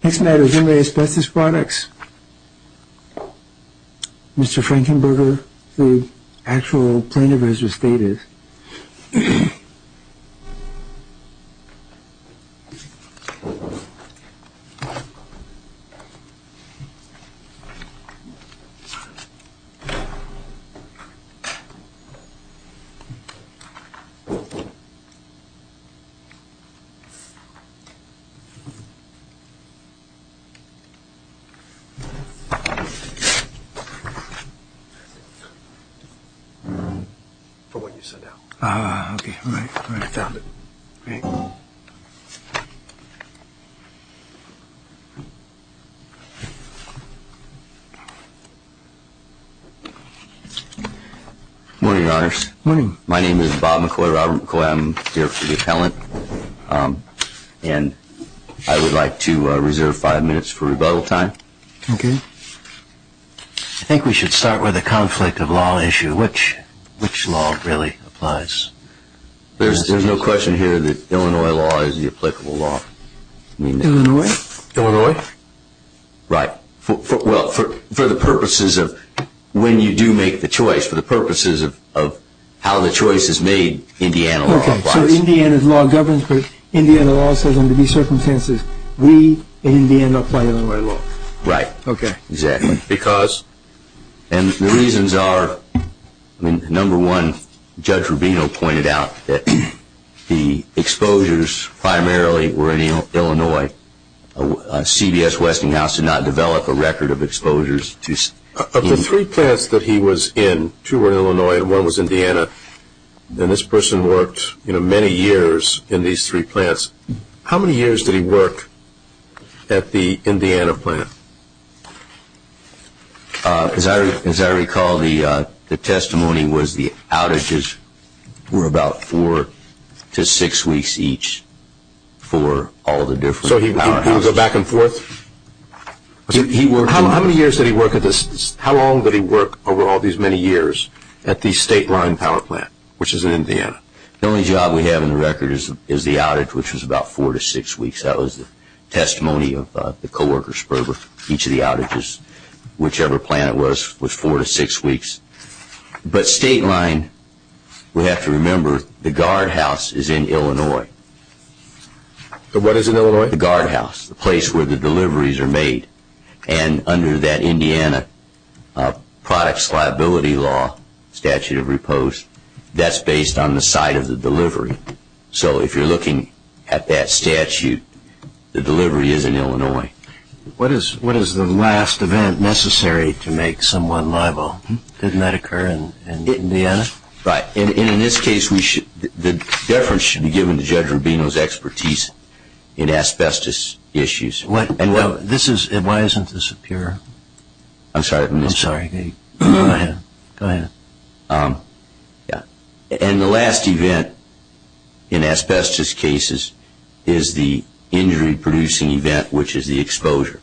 This matter is in the Asbestos Products, Mr. Frankenberger, the actual plaintiff has restated. For what you sent out. Ah, okay, all right, all right, I found it. Great. Morning, Your Honors. Morning. My name is Bob McCoy, Robert McCoy, I'm here for the appellant, and I would like to reserve five minutes for rebuttal time. Okay. I think we should start with a conflict of law issue, which law really applies? There's no question here that Illinois law is the applicable law. Illinois? Illinois. Right. Well, for the purposes of when you do make the choice, for the purposes of how the choice is made, Indiana law applies. Okay, so Indiana's law governs, but Indiana law says under these circumstances, we, Indiana, apply Illinois law. Right. Okay. Exactly. Because? And the reasons are, number one, Judge Rubino pointed out that the exposures primarily were in Illinois. CBS Westinghouse did not develop a record of exposures. Of the three plants that he was in, two were in Illinois and one was Indiana, and this person worked many years in these three plants. How many years did he work at the Indiana plant? As I recall, the testimony was the outages were about four to six weeks each for all the different powerhouses. So he would go back and forth? How many years did he work at this? How long did he work over all these many years at the state line power plant, which is in Indiana? The only job we have in the record is the outage, which was about four to six weeks. That was the testimony of the coworkers for each of the outages, whichever plant it was, was four to six weeks. But state line, we have to remember, the guardhouse is in Illinois. What is in Illinois? The guardhouse, the place where the deliveries are made. Under that Indiana products liability law, statute of repose, that's based on the site of the delivery. So if you're looking at that statute, the delivery is in Illinois. What is the last event necessary to make someone liable? Didn't that occur in Indiana? Right. In this case, the deference should be given to Judge Rubino's expertise in asbestos issues. Why doesn't this appear? I'm sorry. I'm sorry. Go ahead. Go ahead. And the last event in asbestos cases is the injury producing event, which is the exposure.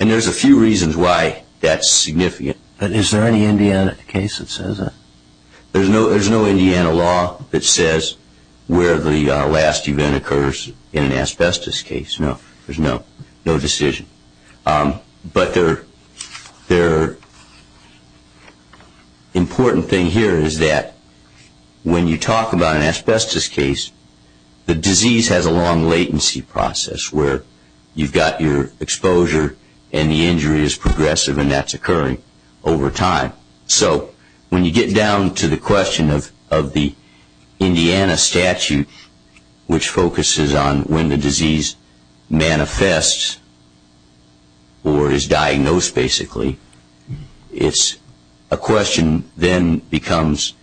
And there's a few reasons why that's significant. But is there any Indiana case that says that? There's no Indiana law that says where the last event occurs in an asbestos case, no. There's no decision. But the important thing here is that when you talk about an asbestos case, the disease has a long latency process where you've got your exposure and the injury is progressive, and that's occurring over time. So when you get down to the question of the Indiana statute, which focuses on when the disease manifests or is diagnosed, basically, it's a question then becomes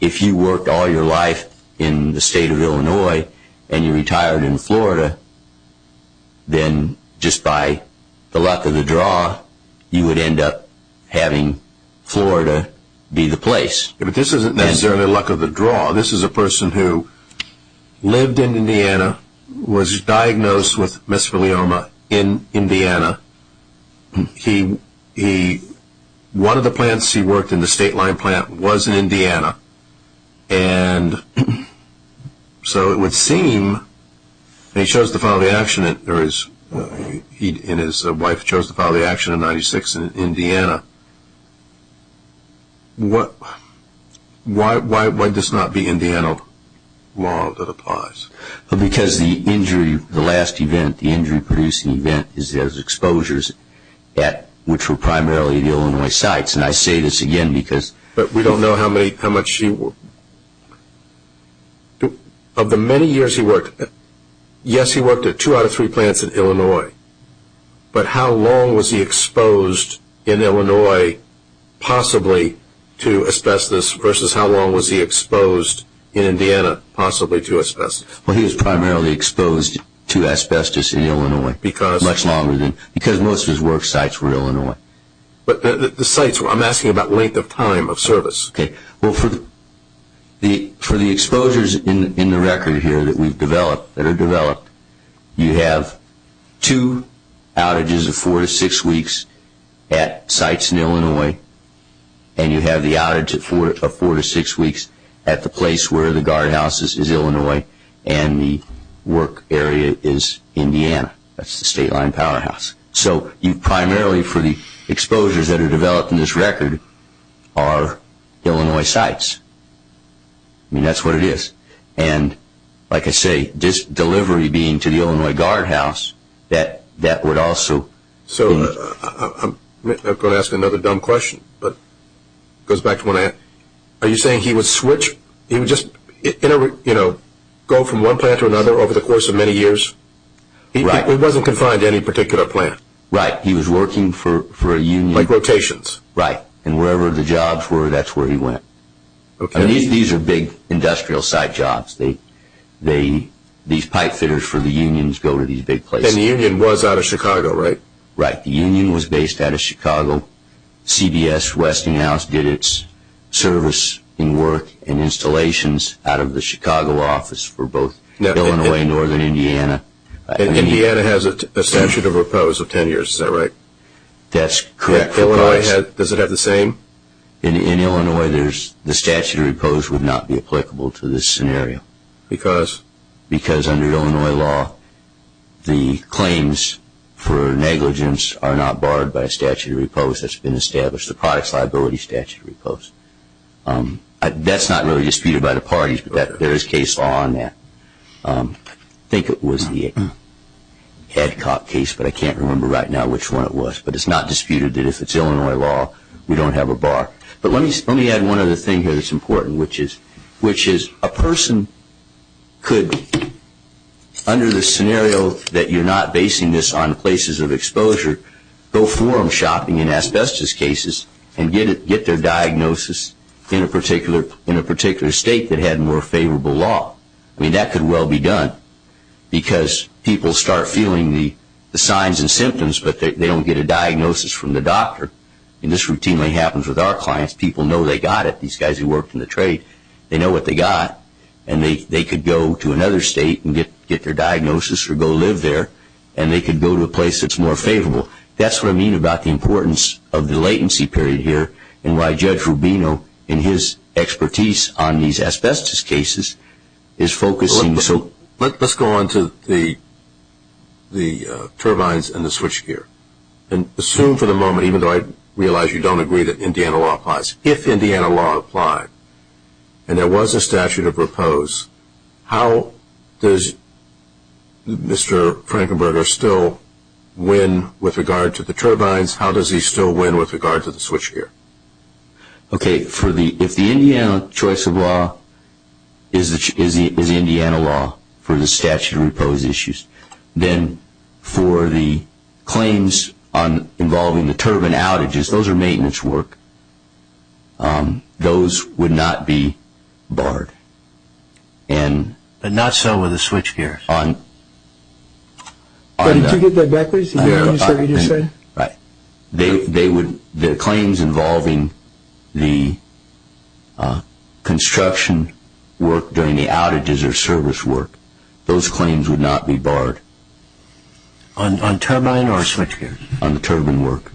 if you worked all your life in the state of Illinois and you retired in Florida, then just by the luck of the draw, you would end up having Florida be the place. But this isn't necessarily luck of the draw. This is a person who lived in Indiana, was diagnosed with mesothelioma in Indiana. One of the plants he worked in, the state line plant, was in Indiana. And so it would seem he chose to follow the action, and his wife chose to follow the action in 1996 in Indiana. Why does this not be Indiana law that applies? Because the injury, the last event, the injury-producing event is there's exposures at which were primarily the Illinois sites. And I say this again because... But we don't know how much he worked. Of the many years he worked, yes, he worked at two out of three plants in Illinois, but how long was he exposed in Illinois possibly to asbestos versus how long was he exposed in Indiana possibly to asbestos? Well, he was primarily exposed to asbestos in Illinois much longer than, because most of his work sites were Illinois. But the sites, I'm asking about length of time of service. Okay. Well, for the exposures in the record here that we've developed, that are developed, you have two outages of four to six weeks at sites in Illinois, and you have the outage of four to six weeks at the place where the guardhouse is Illinois and the work area is Indiana. That's the state line powerhouse. So you primarily, for the exposures that are developed in this record, are Illinois sites. I mean, that's what it is. And like I say, this delivery being to the Illinois guardhouse, that would also... So I'm going to ask another dumb question, but it goes back to what I asked. Are you saying he would switch? He would just go from one plant to another over the course of many years? Right. He wasn't confined to any particular plant. Right. He was working for a union. Like rotations. Right. And wherever the jobs were, that's where he went. These are big industrial site jobs. These pipe fitters for the unions go to these big places. And the union was out of Chicago, right? Right. The union was based out of Chicago. CBS Westinghouse did its service and work and installations out of the Chicago office for both Illinois and northern Indiana. Indiana has a statute of repose of ten years. Is that right? That's correct. Does it have the same? In Illinois, the statute of repose would not be applicable to this scenario. Because? Because under Illinois law, the claims for negligence are not barred by a statute of repose that's been established, the products liability statute of repose. That's not really disputed by the parties, but there is case law on that. I think it was the Edcock case, but I can't remember right now which one it was. But it's not disputed that if it's Illinois law, we don't have a bar. But let me add one other thing here that's important, which is a person could, under the scenario that you're not basing this on places of exposure, go forum shopping in asbestos cases and get their diagnosis in a particular state that had more favorable law. I mean, that could well be done because people start feeling the signs and symptoms, but they don't get a diagnosis from the doctor. This routinely happens with our clients. People know they got it. These guys who worked in the trade, they know what they got, and they could go to another state and get their diagnosis or go live there, and they could go to a place that's more favorable. That's what I mean about the importance of the latency period here and why Judge Rubino, in his expertise on these asbestos cases, is focusing. Let's go on to the turbines and the switchgear. Assume for the moment, even though I realize you don't agree that Indiana law applies, if Indiana law applied and there was a statute of repose, how does Mr. Frankenberger still win with regard to the turbines? How does he still win with regard to the switchgear? If the Indiana choice of law is Indiana law for the statute of repose issues, then for the claims involving the turbine outages, those are maintenance work. Those would not be barred, but not so with the switchgear. Did you get that backwards? Right. The claims involving the construction work during the outages or service work, those claims would not be barred. On turbine or switchgear? On the turbine work.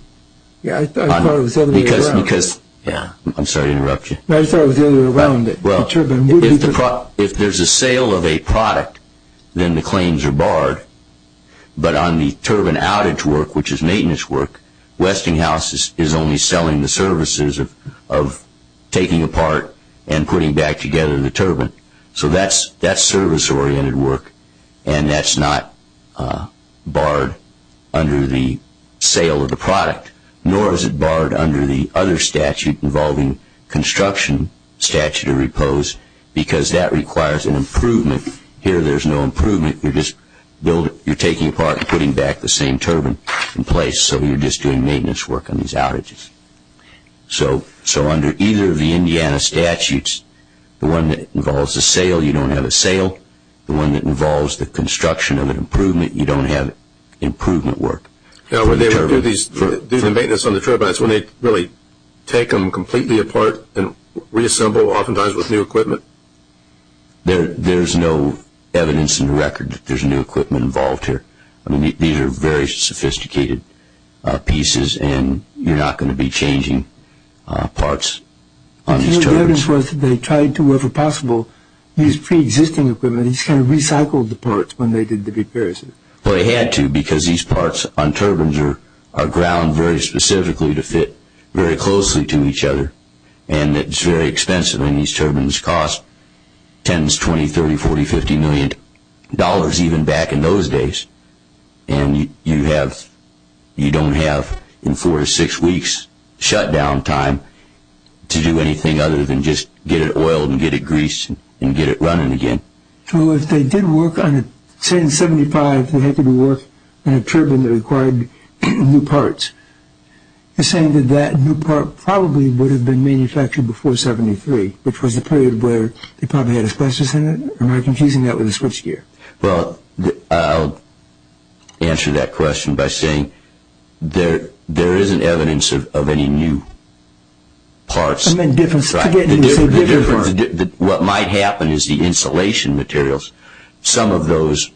I thought it was the other way around. I'm sorry to interrupt you. I thought it was the other way around. If there's a sale of a product, then the claims are barred. But on the turbine outage work, which is maintenance work, Westinghouse is only selling the services of taking apart and putting back together the turbine. So that's service-oriented work, and that's not barred under the sale of the product, nor is it barred under the other statute involving construction statute of repose because that requires an improvement. Here there's no improvement. You're just taking apart and putting back the same turbine in place, so you're just doing maintenance work on these outages. So under either of the Indiana statutes, the one that involves a sale, you don't have a sale. The one that involves the construction of an improvement, you don't have improvement work for the turbine. Do the maintenance on the turbines, when they really take them completely apart and reassemble oftentimes with new equipment? There's no evidence in the record that there's new equipment involved here. These are very sophisticated pieces, and you're not going to be changing parts on these turbines. The only evidence was that they tried to, wherever possible, use preexisting equipment. They just kind of recycled the parts when they did the repairs. Well, they had to because these parts on turbines are ground very specifically to fit very closely to each other, and it's very expensive, and these turbines cost $10s, $20s, $30s, $40s, $50 million even back in those days. And you don't have in four or six weeks shutdown time to do anything other than just get it oiled and get it greased and get it running again. So if they did work on a 1075, they had to work on a turbine that required new parts. You're saying that that new part probably would have been manufactured before 73, which was the period where they probably had asbestos in it? Am I confusing that with a switchgear? Well, I'll answer that question by saying there isn't evidence of any new parts. What might happen is the insulation materials, some of those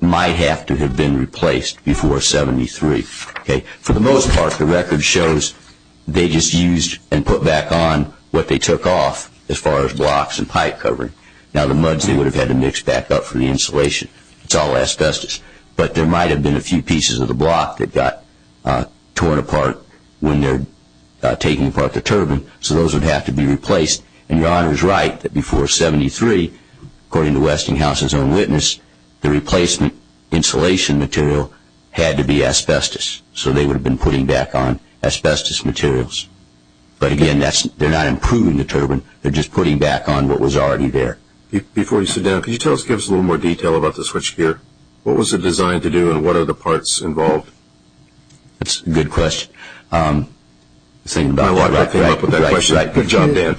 might have to have been replaced before 73. For the most part, the record shows they just used and put back on what they took off as far as blocks and pipe covering. Now the muds they would have had to mix back up for the insulation. It's all asbestos. But there might have been a few pieces of the block that got torn apart when they were taking apart the turbine. So those would have to be replaced. And your Honor is right that before 73, according to Westinghouse's own witness, the replacement insulation material had to be asbestos. So they would have been putting back on asbestos materials. But again, they're not improving the turbine. They're just putting back on what was already there. Before you sit down, can you give us a little more detail about the switchgear? What was it designed to do and what are the parts involved? That's a good question. I was thinking about it when I came up with that question. Good job, Dan.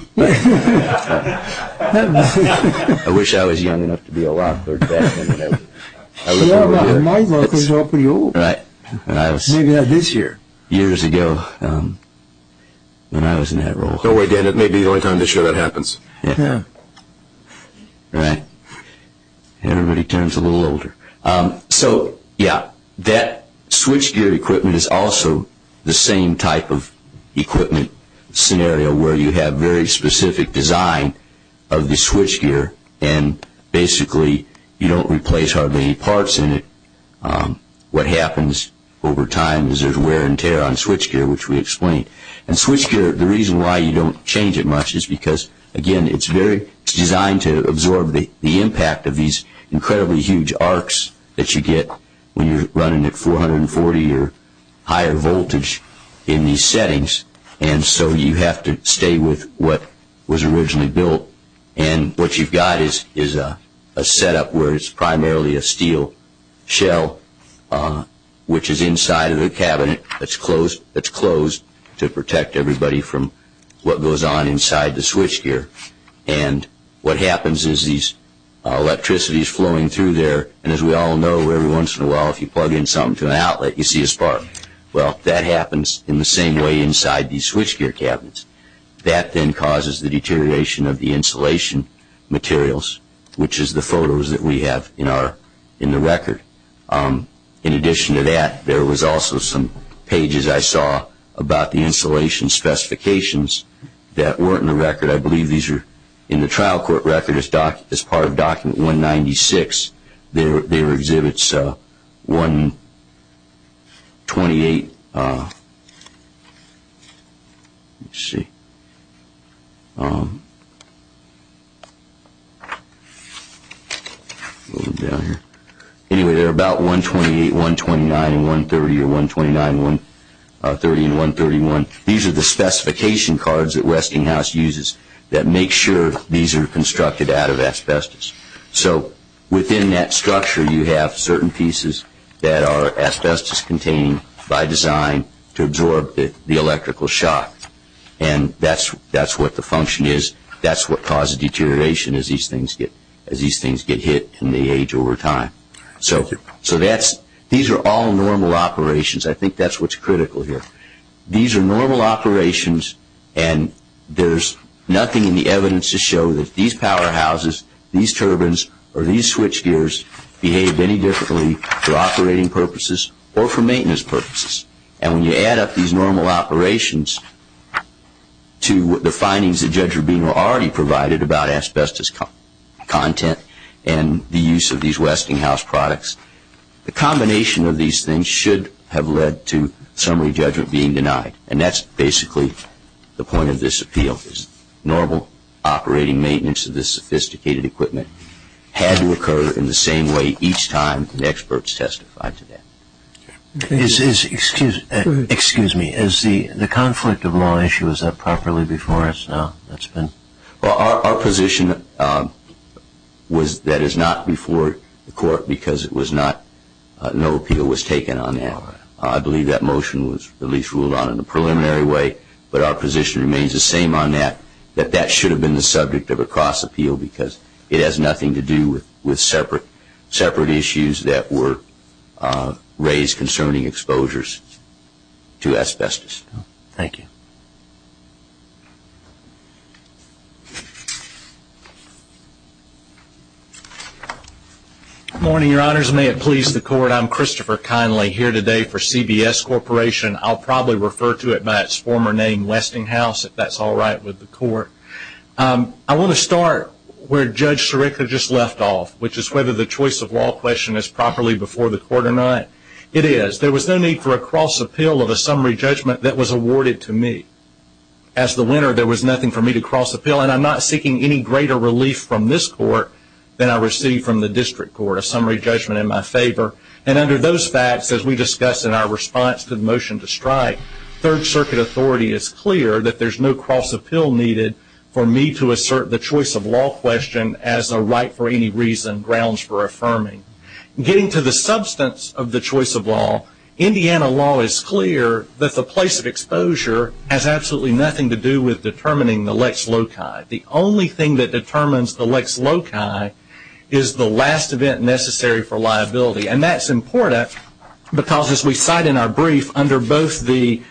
I wish I was young enough to be a Lockhart back then. My Lockharts are pretty old. Right. Maybe not this year. Years ago when I was in that role. Don't worry, Dan. It may be the only time this year that happens. Right. Everybody turns a little older. So, yeah, that switchgear equipment is also the same type of equipment scenario where you have very specific design of the switchgear and basically you don't replace hardly any parts in it. What happens over time is there's wear and tear on switchgear, which we explained. And switchgear, the reason why you don't change it much is because, again, it's designed to absorb the impact of these incredibly huge arcs that you get when you're running at 440 or higher voltage in these settings, and so you have to stay with what was originally built. And what you've got is a setup where it's primarily a steel shell, which is inside of the cabinet that's closed to protect everybody from what goes on inside the switchgear. And what happens is these electricity is flowing through there, and as we all know, every once in a while, if you plug in something to an outlet, you see a spark. Well, that happens in the same way inside these switchgear cabinets. That then causes the deterioration of the insulation materials, which is the photos that we have in the record. In addition to that, there was also some pages I saw about the insulation specifications that weren't in the record. I believe these are in the trial court record as part of Document 196. They were Exhibits 128. Anyway, they're about 128, 129, and 130, or 129, 130, and 131. These are the specification cards that Westinghouse uses that make sure these are constructed out of asbestos. So within that structure, you have certain pieces that are asbestos-contained by design to absorb the electrical shock, and that's what the function is. That's what causes deterioration as these things get hit in the age over time. So these are all normal operations. I think that's what's critical here. These are normal operations, and there's nothing in the evidence to show that these powerhouses, these turbines, or these switchgears behaved any differently for operating purposes or for maintenance purposes. And when you add up these normal operations to the findings that Judge Rubino already provided about asbestos content and the use of these Westinghouse products, the combination of these things should have led to summary judgment being denied, and that's basically the point of this appeal is normal operating maintenance of this sophisticated equipment had to occur in the same way each time the experts testified to that. Excuse me. The conflict of law issue, is that properly before us now? Our position was that it's not before the court because no appeal was taken on that. I believe that motion was at least ruled on in a preliminary way, but our position remains the same on that, that that should have been the subject of a cross appeal because it has nothing to do with separate issues that were raised concerning exposures to asbestos. Thank you. Good morning, your honors. May it please the court, I'm Christopher Kinley here today for CBS Corporation. I'll probably refer to it by its former name, Westinghouse, if that's all right with the court. I want to start where Judge Sirica just left off, which is whether the choice of law question is properly before the court or not. It is. There was no need for a cross appeal of a summary judgment that was awarded to me. As the winner, there was nothing for me to cross appeal, and I'm not seeking any greater relief from this court than I received from the district court, a summary judgment in my favor. And under those facts, as we discussed in our response to the motion to strike, Third Circuit authority is clear that there's no cross appeal needed for me to assert the choice of law question as a right for any reason grounds for affirming. Getting to the substance of the choice of law, Indiana law is clear that the place of exposure has absolutely nothing to do with determining the lex loci. The only thing that determines the lex loci is the last event necessary for liability, and that's important because, as we cite in our brief, under both the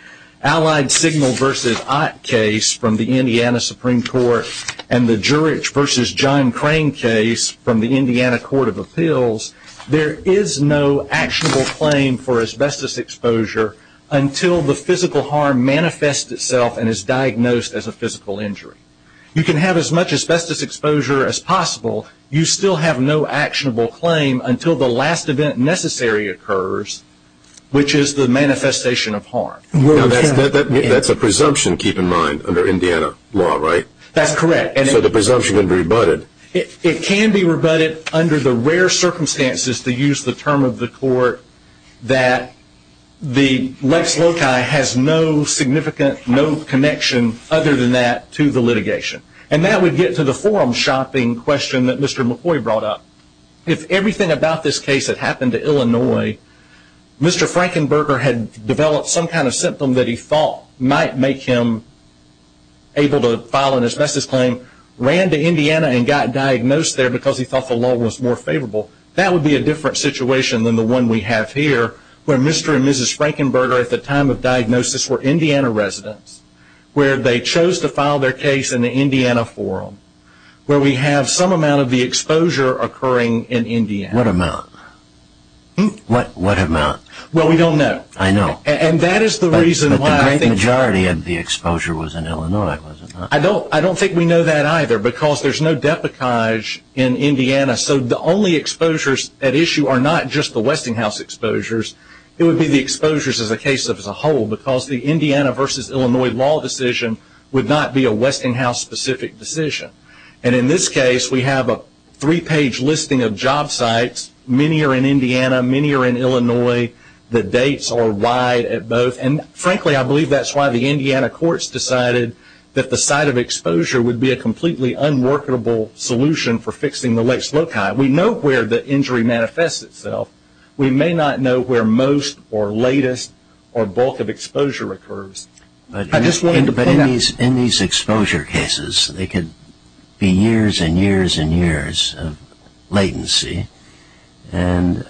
Allied Signal v. Ott case from the Indiana Supreme Court and the Jurich v. John Crane case from the Indiana Court of Appeals, there is no actionable claim for asbestos exposure until the physical harm manifests itself and is diagnosed as a physical injury. You can have as much asbestos exposure as possible. You still have no actionable claim until the last event necessary occurs, which is the manifestation of harm. That's a presumption, keep in mind, under Indiana law, right? That's correct. So the presumption can be rebutted? It can be rebutted under the rare circumstances, to use the term of the court, that the lex loci has no significant, no connection other than that to the litigation. And that would get to the forum shopping question that Mr. McCoy brought up. If everything about this case had happened to Illinois, Mr. Frankenberger had developed some kind of symptom that he thought might make him able to file an asbestos claim, ran to Indiana and got diagnosed there because he thought the law was more favorable, that would be a different situation than the one we have here where Mr. and Mrs. Frankenberger at the time of diagnosis were Indiana residents, where they chose to file their case in the Indiana forum, where we have some amount of the exposure occurring in Indiana. What amount? What amount? Well, we don't know. I know. And that is the reason why I think... But the great majority of the exposure was in Illinois, was it not? I don't think we know that either because there's no deprecage in Indiana. So the only exposures at issue are not just the Westinghouse exposures. It would be the exposures as a case as a whole because the Indiana versus Illinois law decision would not be a Westinghouse-specific decision. And in this case, we have a three-page listing of job sites. Many are in Indiana. Many are in Illinois. The dates are wide at both. And frankly, I believe that's why the Indiana courts decided that the site of exposure would be a completely unworkable solution for fixing the lakes loci. We know where the injury manifests itself. We may not know where most or latest or bulk of exposure occurs. In these exposure cases, there could be years and years and years of latency, and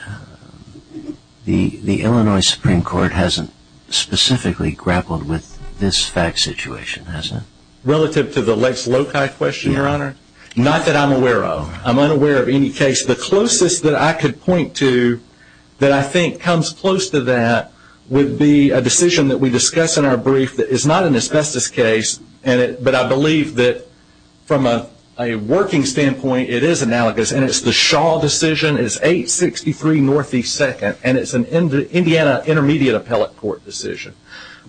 the Illinois Supreme Court hasn't specifically grappled with this fact situation, has it? Relative to the lakes loci question, Your Honor, not that I'm aware of. I'm unaware of any case. The closest that I could point to that I think comes close to that would be a decision that we discuss in our brief that is not an asbestos case, but I believe that from a working standpoint, it is analogous, and it's the Shaw decision. It's 863 Northeast 2nd, and it's an Indiana Intermediate Appellate Court decision.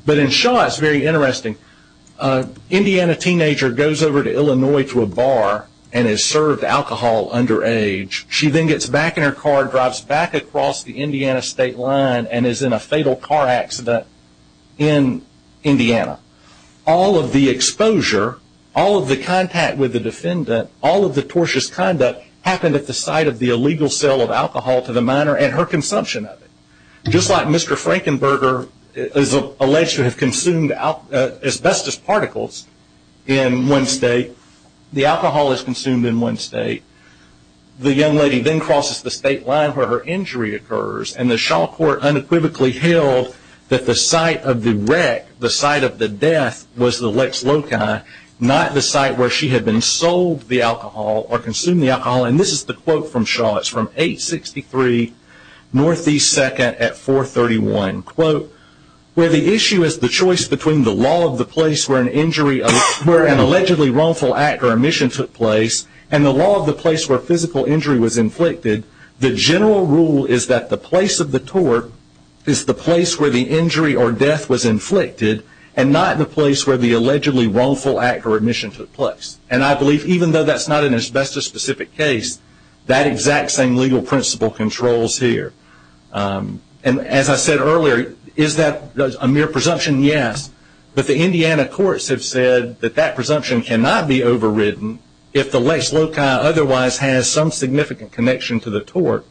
But in Shaw, it's very interesting. Indiana teenager goes over to Illinois to a bar and is served alcohol underage. She then gets back in her car, drives back across the Indiana state line, and is in a fatal car accident in Indiana. All of the exposure, all of the contact with the defendant, all of the tortious conduct happened at the site of the illegal sale of alcohol to the minor and her consumption of it. Just like Mr. Frankenberger is alleged to have consumed asbestos particles in one state, the alcohol is consumed in one state. The young lady then crosses the state line where her injury occurs, and the Shaw court unequivocally held that the site of the wreck, the site of the death, was the Lex Loci, not the site where she had been sold the alcohol or consumed the alcohol. And this is the quote from Shaw. It's from 863 Northeast 2nd at 431. Quote, where the issue is the choice between the law of the place where an injury, where an allegedly wrongful act or omission took place, and the law of the place where physical injury was inflicted, the general rule is that the place of the tort is the place where the injury or death was inflicted and not the place where the allegedly wrongful act or omission took place. And I believe even though that's not an asbestos specific case, that exact same legal principle controls here. And as I said earlier, is that a mere presumption? Yes. But the Indiana courts have said that that presumption cannot be overridden if the Lex Loci otherwise has some significant connection to the tort.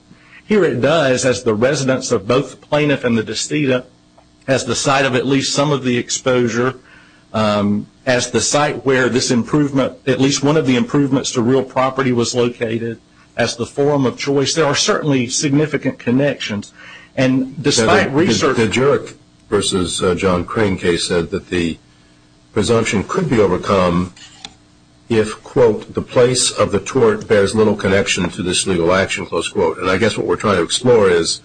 Here it does, as the residence of both the plaintiff and the decedent, as the site of at least some of the exposure, as the site where this improvement, at least one of the improvements to real property was located, as the forum of choice. There are certainly significant connections. And despite research. The Jurek versus John Crane case said that the presumption could be overcome if, quote, the place of the tort bears little connection to this legal action, close quote. And I guess what we're trying to explore is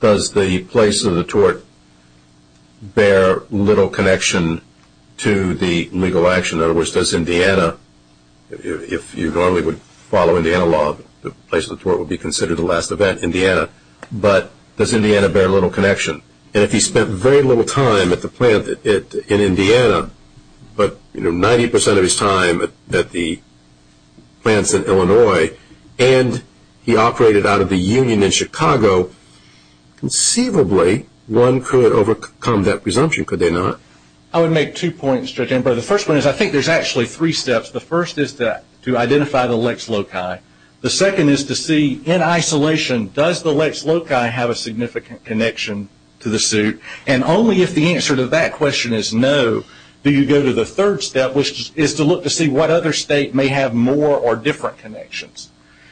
does the place of the tort bear little connection to the legal action? In other words, does Indiana, if you normally would follow Indiana law, the place of the tort would be considered the last event, Indiana. But does Indiana bear little connection? And if he spent very little time at the plant in Indiana, but 90% of his time at the plants in Illinois, and he operated out of the union in Chicago, conceivably one could overcome that presumption, could they not? I would make two points, Judge Amber. The first one is I think there's actually three steps. The first is to identify the Lex Loci. The second is to see in isolation does the Lex Loci have a significant connection to the suit? And only if the answer to that question is no do you go to the third step, which is to look to see what other state may have more or different connections.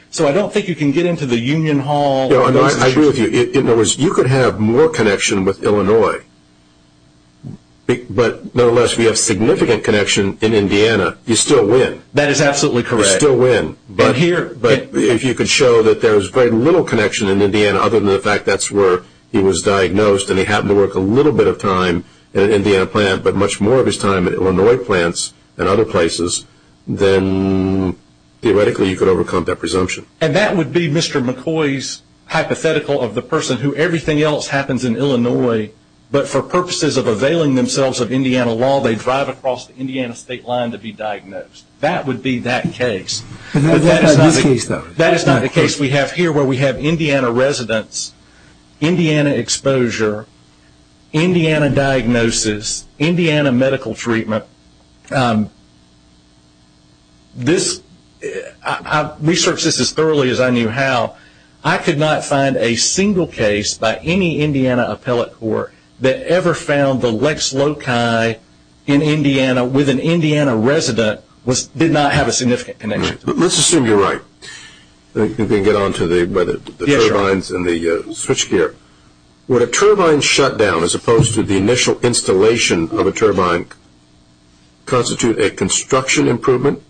So I don't think you can get into the union hall. I agree with you. In other words, you could have more connection with Illinois, but nonetheless, if you have significant connection in Indiana, you still win. That is absolutely correct. You still win. But if you could show that there's very little connection in Indiana other than the fact that's where he was diagnosed and he happened to work a little bit of time at an Indiana plant, but much more of his time at Illinois plants and other places, then theoretically you could overcome that presumption. And that would be Mr. McCoy's hypothetical of the person who everything else happens in Illinois, but for purposes of availing themselves of Indiana law, they drive across the Indiana state line to be diagnosed. That would be that case. That is not the case, though. Indiana exposure, Indiana diagnosis, Indiana medical treatment. I researched this as thoroughly as I knew how. I could not find a single case by any Indiana appellate court that ever found the lex loci in Indiana with an Indiana resident did not have a significant connection. Let's assume you're right. We can get on to the turbines and the switchgear. Would a turbine shutdown, as opposed to the initial installation of a turbine, constitute a construction improvement,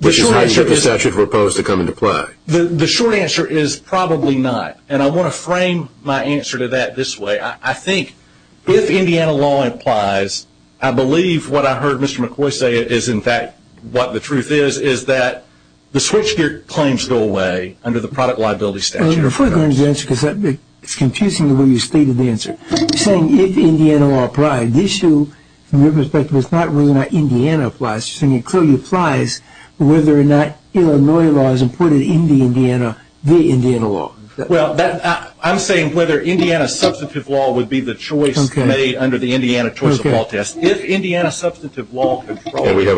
which is how you would propose to come into play? The short answer is probably not, and I want to frame my answer to that this way. I think if Indiana law applies, I believe what I heard Mr. McCoy say is in fact what the truth is, is that the switchgear claims go away under the product liability statute. You're furthering your answer because it's confusing the way you stated the answer. You're saying if Indiana law applied. The issue, from your perspective, is not whether or not Indiana applies. You're saying it clearly applies whether or not Illinois law is important in the Indiana law. Well, I'm saying whether Indiana substantive law would be the choice made under the Indiana choice-of-law test. We have a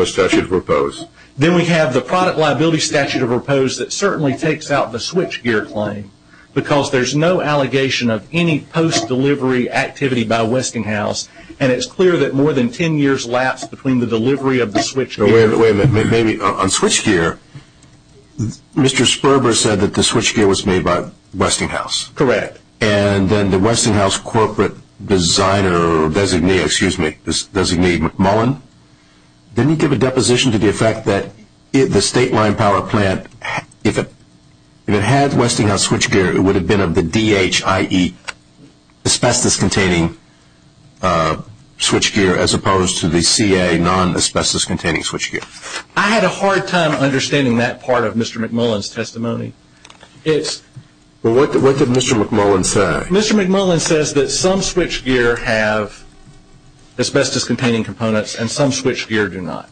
statute to propose. Then we have the product liability statute to propose that certainly takes out the switchgear claim because there's no allegation of any post-delivery activity by Westinghouse, and it's clear that more than ten years lapsed between the delivery of the switchgear. Wait a minute. Maybe on switchgear, Mr. Sperber said that the switchgear was made by Westinghouse. Correct. And then the Westinghouse corporate designer or designee, excuse me, McMullen, didn't he give a deposition to the effect that the state line power plant, if it had Westinghouse switchgear, it would have been of the DH, i.e. asbestos-containing switchgear, as opposed to the CA, non-asbestos-containing switchgear. I had a hard time understanding that part of Mr. McMullen's testimony. What did Mr. McMullen say? Mr. McMullen says that some switchgear have asbestos-containing components and some switchgear do not.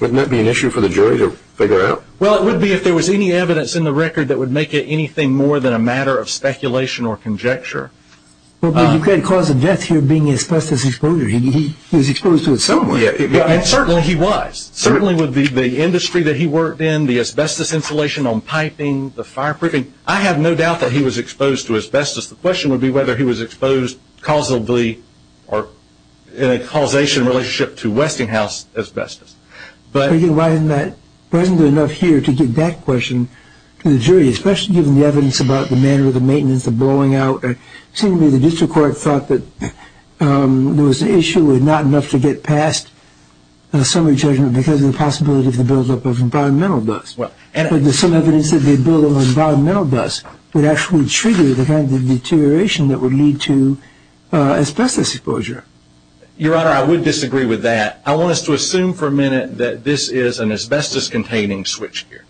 Wouldn't that be an issue for the jury to figure out? Well, it would be if there was any evidence in the record that would make it anything more than a matter of speculation or conjecture. Well, but you've got a cause of death here being asbestos exposure. He was exposed to it somewhere. And certainly he was. Certainly with the industry that he worked in, the asbestos insulation on piping, the fireproofing, I have no doubt that he was exposed to asbestos. The question would be whether he was exposed causably or in a causation relationship to Westinghouse asbestos. But wasn't it enough here to get that question to the jury, especially given the evidence about the manner of the maintenance, the blowing out? It seems to me the district court thought that there was an issue with not enough to get past the summary judgment because of the possibility of the buildup of environmental dust. But there's some evidence that the buildup of environmental dust would actually trigger the kind of deterioration that would lead to asbestos exposure. Your Honor, I would disagree with that. I want us to assume for a minute that this is an asbestos-containing switchgear.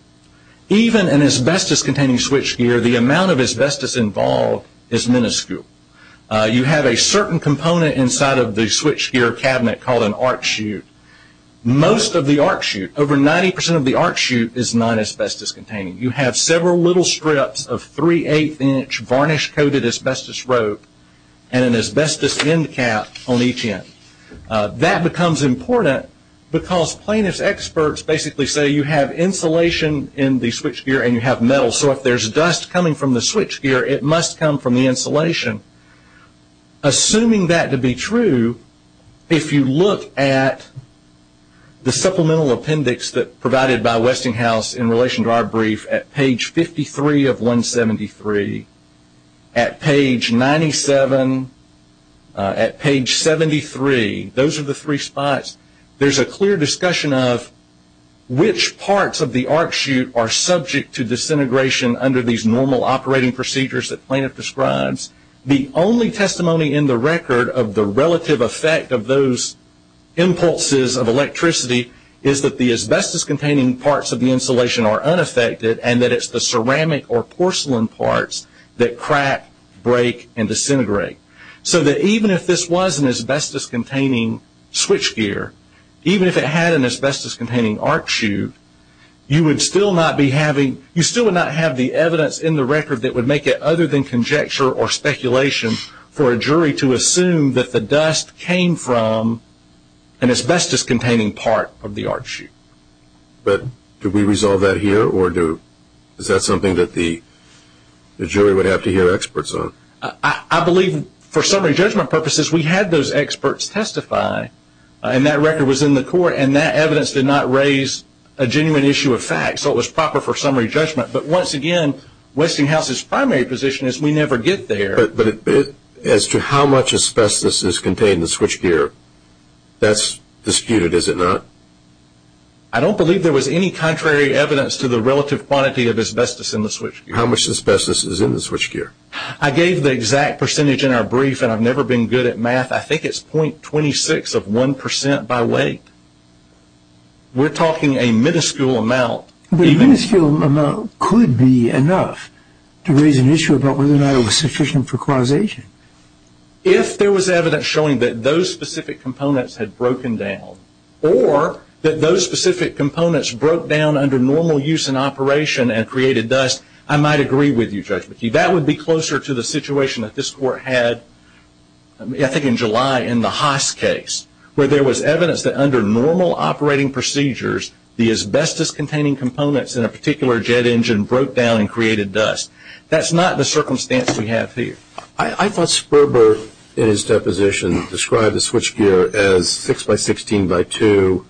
Even an asbestos-containing switchgear, the amount of asbestos involved is minuscule. You have a certain component inside of the switchgear cabinet called an arc chute. Most of the arc chute, over 90% of the arc chute, is not asbestos-containing. You have several little strips of three-eighth-inch varnish-coated asbestos rope and an asbestos end cap on each end. That becomes important because plaintiff's experts basically say you have insulation in the switchgear and you have metal. So if there's dust coming from the switchgear, it must come from the insulation. Assuming that to be true, if you look at the supplemental appendix provided by Westinghouse in relation to our brief at page 53 of 173, at page 97, at page 73, those are the three spots, there's a clear discussion of which parts of the arc chute are subject to disintegration under these normal operating procedures that plaintiff describes. The only testimony in the record of the relative effect of those impulses of electricity is that the asbestos-containing parts of the insulation are unaffected and that it's the ceramic or porcelain parts that crack, break, and disintegrate. So that even if this was an asbestos-containing switchgear, even if it had an asbestos-containing arc chute, you still would not have the evidence in the record that would make it other than conjecture or speculation for a jury to assume that the dust came from an asbestos-containing part of the arc chute. But do we resolve that here or is that something that the jury would have to hear experts on? I believe for summary judgment purposes, we had those experts testify and that record was in the court and that evidence did not raise a genuine issue of fact, so it was proper for summary judgment. But once again, Westinghouse's primary position is we never get there. But as to how much asbestos is contained in the switchgear, that's disputed, is it not? I don't believe there was any contrary evidence to the relative quantity of asbestos in the switchgear. How much asbestos is in the switchgear? I gave the exact percentage in our brief and I've never been good at math. I think it's 0.26 of 1% by weight. We're talking a minuscule amount. But a minuscule amount could be enough to raise an issue about whether or not it was sufficient for causation. If there was evidence showing that those specific components had broken down or that those specific components broke down under normal use and operation and created dust, I might agree with you, Judge McKee. That would be closer to the situation that this Court had, I think in July, in the Haas case, where there was evidence that under normal operating procedures, the asbestos-containing components in a particular jet engine broke down and created dust. That's not the circumstance we have here. I thought Sperber, in his deposition, described the switchgear as 6x16x2.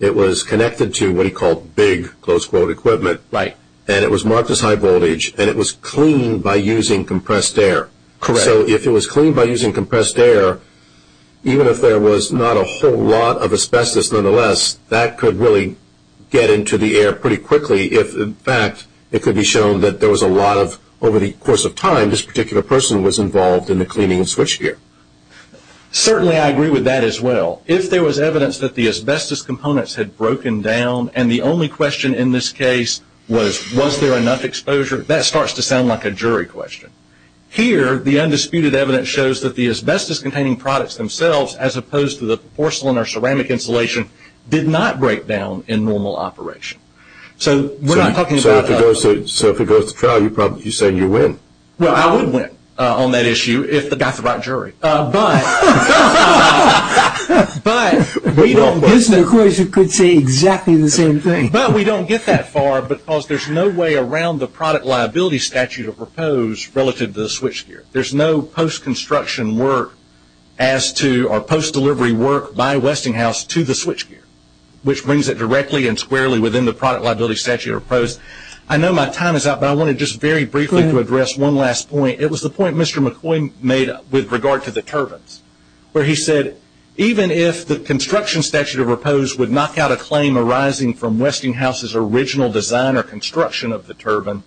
It was connected to what he called big, close quote, equipment. Right. And it was marked as high voltage and it was cleaned by using compressed air. Correct. So if it was cleaned by using compressed air, even if there was not a whole lot of asbestos nonetheless, that could really get into the air pretty quickly if, in fact, it could be shown that there was a lot of, over the course of time, this particular person was involved in the cleaning of switchgear. Certainly I agree with that as well. If there was evidence that the asbestos components had broken down and the only question in this case was was there enough exposure, that starts to sound like a jury question. Here, the undisputed evidence shows that the asbestos-containing products themselves, as opposed to the porcelain or ceramic insulation, did not break down in normal operation. So we're not talking about... So if it goes to trial, you're saying you win. But we don't get that far because there's no way around the product liability statute or proposed relative to the switchgear. There's no post-construction work as to or post-delivery work by Westinghouse to the switchgear, which brings it directly and squarely within the product liability statute or proposed. I know my time is up, but I wanted just very briefly to address one last point. It was the point Mr. McCoy made with regard to the turbines, where he said, even if the construction statute or proposed would knock out a claim arising from Westinghouse's original design or construction of the turbine,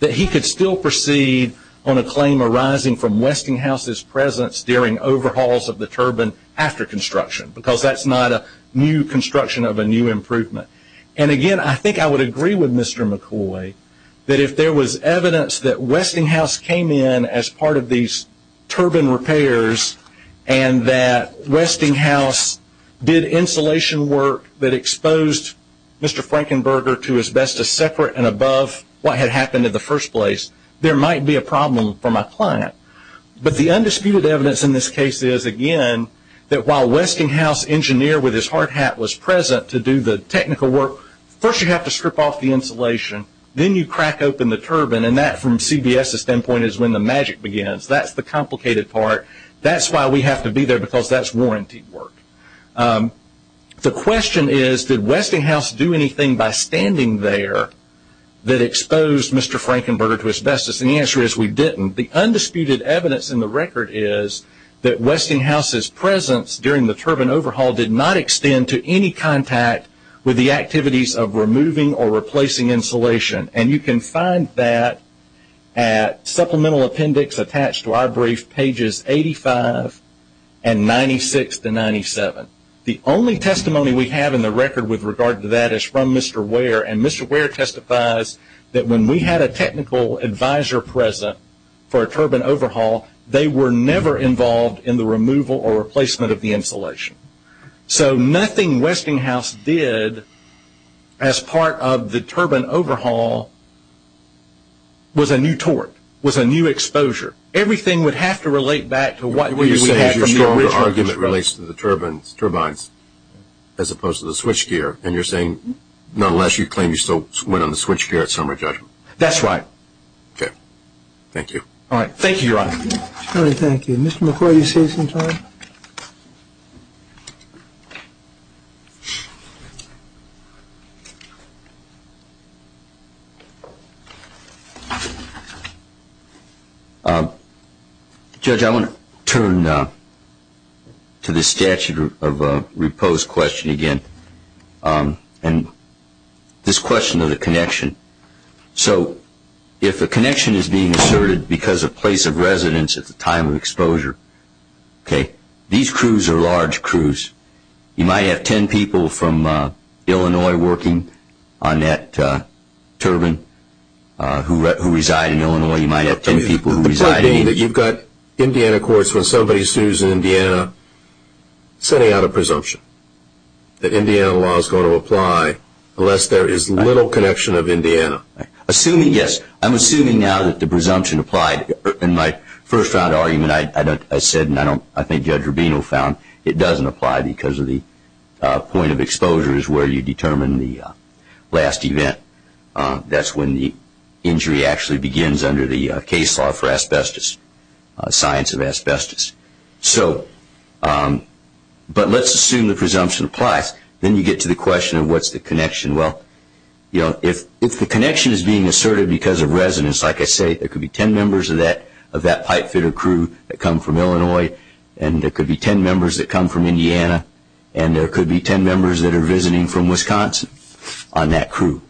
that he could still proceed on a claim arising from Westinghouse's presence during overhauls of the turbine after construction because that's not a new construction of a new improvement. Again, I think I would agree with Mr. McCoy that if there was evidence that Westinghouse came in as part of these turbine repairs and that Westinghouse did insulation work that exposed Mr. Frankenberger to as best as separate and above what had happened in the first place, there might be a problem from a client. But the undisputed evidence in this case is, again, that while Westinghouse's engineer with his hard hat was present to do the technical work, first you have to strip off the insulation. Then you crack open the turbine, and that from CBS's standpoint is when the magic begins. That's the complicated part. That's why we have to be there because that's warranty work. The question is, did Westinghouse do anything by standing there that exposed Mr. Frankenberger to asbestos? And the answer is we didn't. The undisputed evidence in the record is that Westinghouse's presence during the turbine overhaul did not extend to any contact with the activities of removing or replacing insulation. And you can find that at supplemental appendix attached to our brief, pages 85 and 96 to 97. The only testimony we have in the record with regard to that is from Mr. Ware, and Mr. Ware testifies that when we had a technical advisor present for a turbine overhaul, they were never involved in the removal or replacement of the insulation. So nothing Westinghouse did as part of the turbine overhaul was a new tort, was a new exposure. Everything would have to relate back to what we had from the original. What you're saying is your stronger argument relates to the turbines as opposed to the switchgear, and you're saying nonetheless you claim you still went on the switchgear at summary judgment. That's right. Thank you. All right. Thank you, Your Honor. Charlie, thank you. Mr. McCoy, do you see us in time? Judge, I want to turn to the statute of repose question again, and this question of the connection. So if a connection is being asserted because of place of residence at the time of exposure, these crews are large crews. You might have 10 people from Illinois working on that turbine who reside in Illinois. You might have 10 people who reside in Indiana. The point being that you've got Indiana courts when somebody sues Indiana setting out a presumption that Indiana law is going to apply unless there is little connection of Indiana. Assuming, yes, I'm assuming now that the presumption applied. In my first-round argument, I said, and I think Judge Rubino found, it doesn't apply because of the point of exposure is where you determine the last event. That's when the injury actually begins under the case law for asbestos, science of asbestos. But let's assume the presumption applies. Then you get to the question of what's the connection. Well, if the connection is being asserted because of residence, like I say, there could be 10 members of that pipe fitter crew that come from Illinois, and there could be 10 members that come from Indiana, and there could be 10 members that are visiting from Wisconsin on that crew.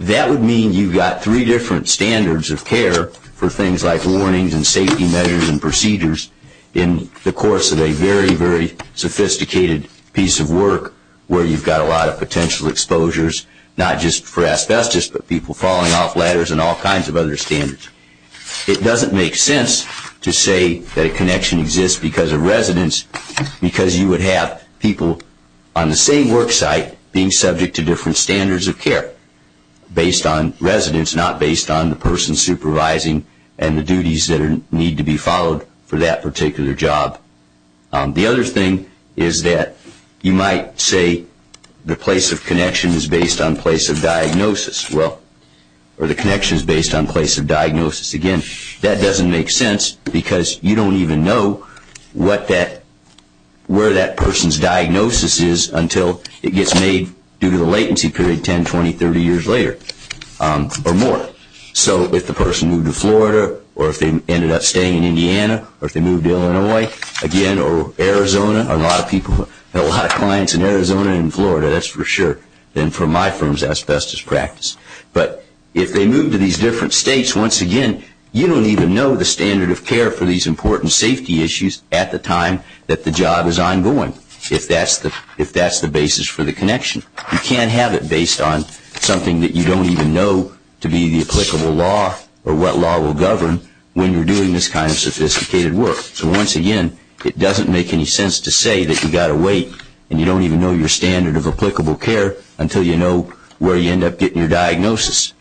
That would mean you've got three different standards of care for things like warnings and safety measures and procedures in the course of a very, very sophisticated piece of work where you've got a lot of potential exposures, not just for asbestos, but people falling off ladders and all kinds of other standards. It doesn't make sense to say that a connection exists because of residence because you would have people on the same work site being subject to different standards of care based on residence, not based on the person supervising and the duties that need to be followed for that particular job. The other thing is that you might say the place of connection is based on place of diagnosis. Well, or the connection is based on place of diagnosis. Again, that doesn't make sense because you don't even know where that person's diagnosis is until it gets made due to the latency period 10, 20, 30 years later. Or more. So if the person moved to Florida or if they ended up staying in Indiana or if they moved to Illinois, again, or Arizona, a lot of people have a lot of clients in Arizona and Florida, that's for sure. And for my firms, asbestos practice. But if they move to these different states, once again, you don't even know the standard of care for these important safety issues at the time that the job is ongoing if that's the basis for the connection. You can't have it based on something that you don't even know to be the applicable law or what law will govern when you're doing this kind of sophisticated work. So once again, it doesn't make any sense to say that you've got to wait and you don't even know your standard of applicable care until you know where you end up getting your diagnosis.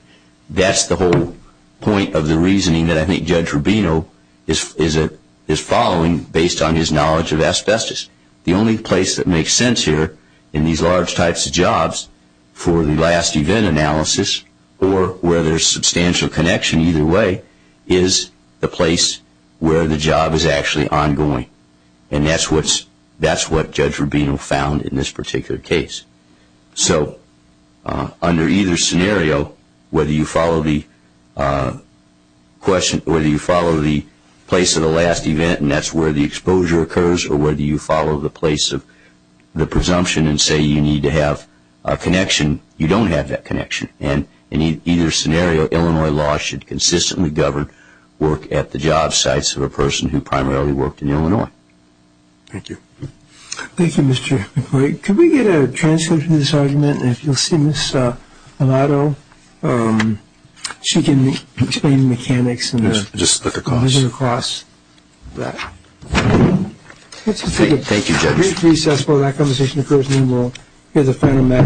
That's the whole point of the reasoning that I think Judge Rubino is following based on his knowledge of asbestos. The only place that makes sense here in these large types of jobs for the last event analysis or where there's substantial connection either way is the place where the job is actually ongoing. And that's what Judge Rubino found in this particular case. So under either scenario, whether you follow the place of the last event and that's where the exposure occurs or whether you follow the place of the presumption and say you need to have a connection, you don't have that connection. And in either scenario, Illinois law should consistently govern work at the job sites of a person who primarily worked in Illinois. Thank you. Thank you, Mr. McQuarrie. Could we get a transcript of this argument? And if you'll see Ms. Milato, she can explain the mechanics. Just look across. Just look across that. Thank you, Judge. Brief recess while that conversation occurs and then we'll hear the final matter.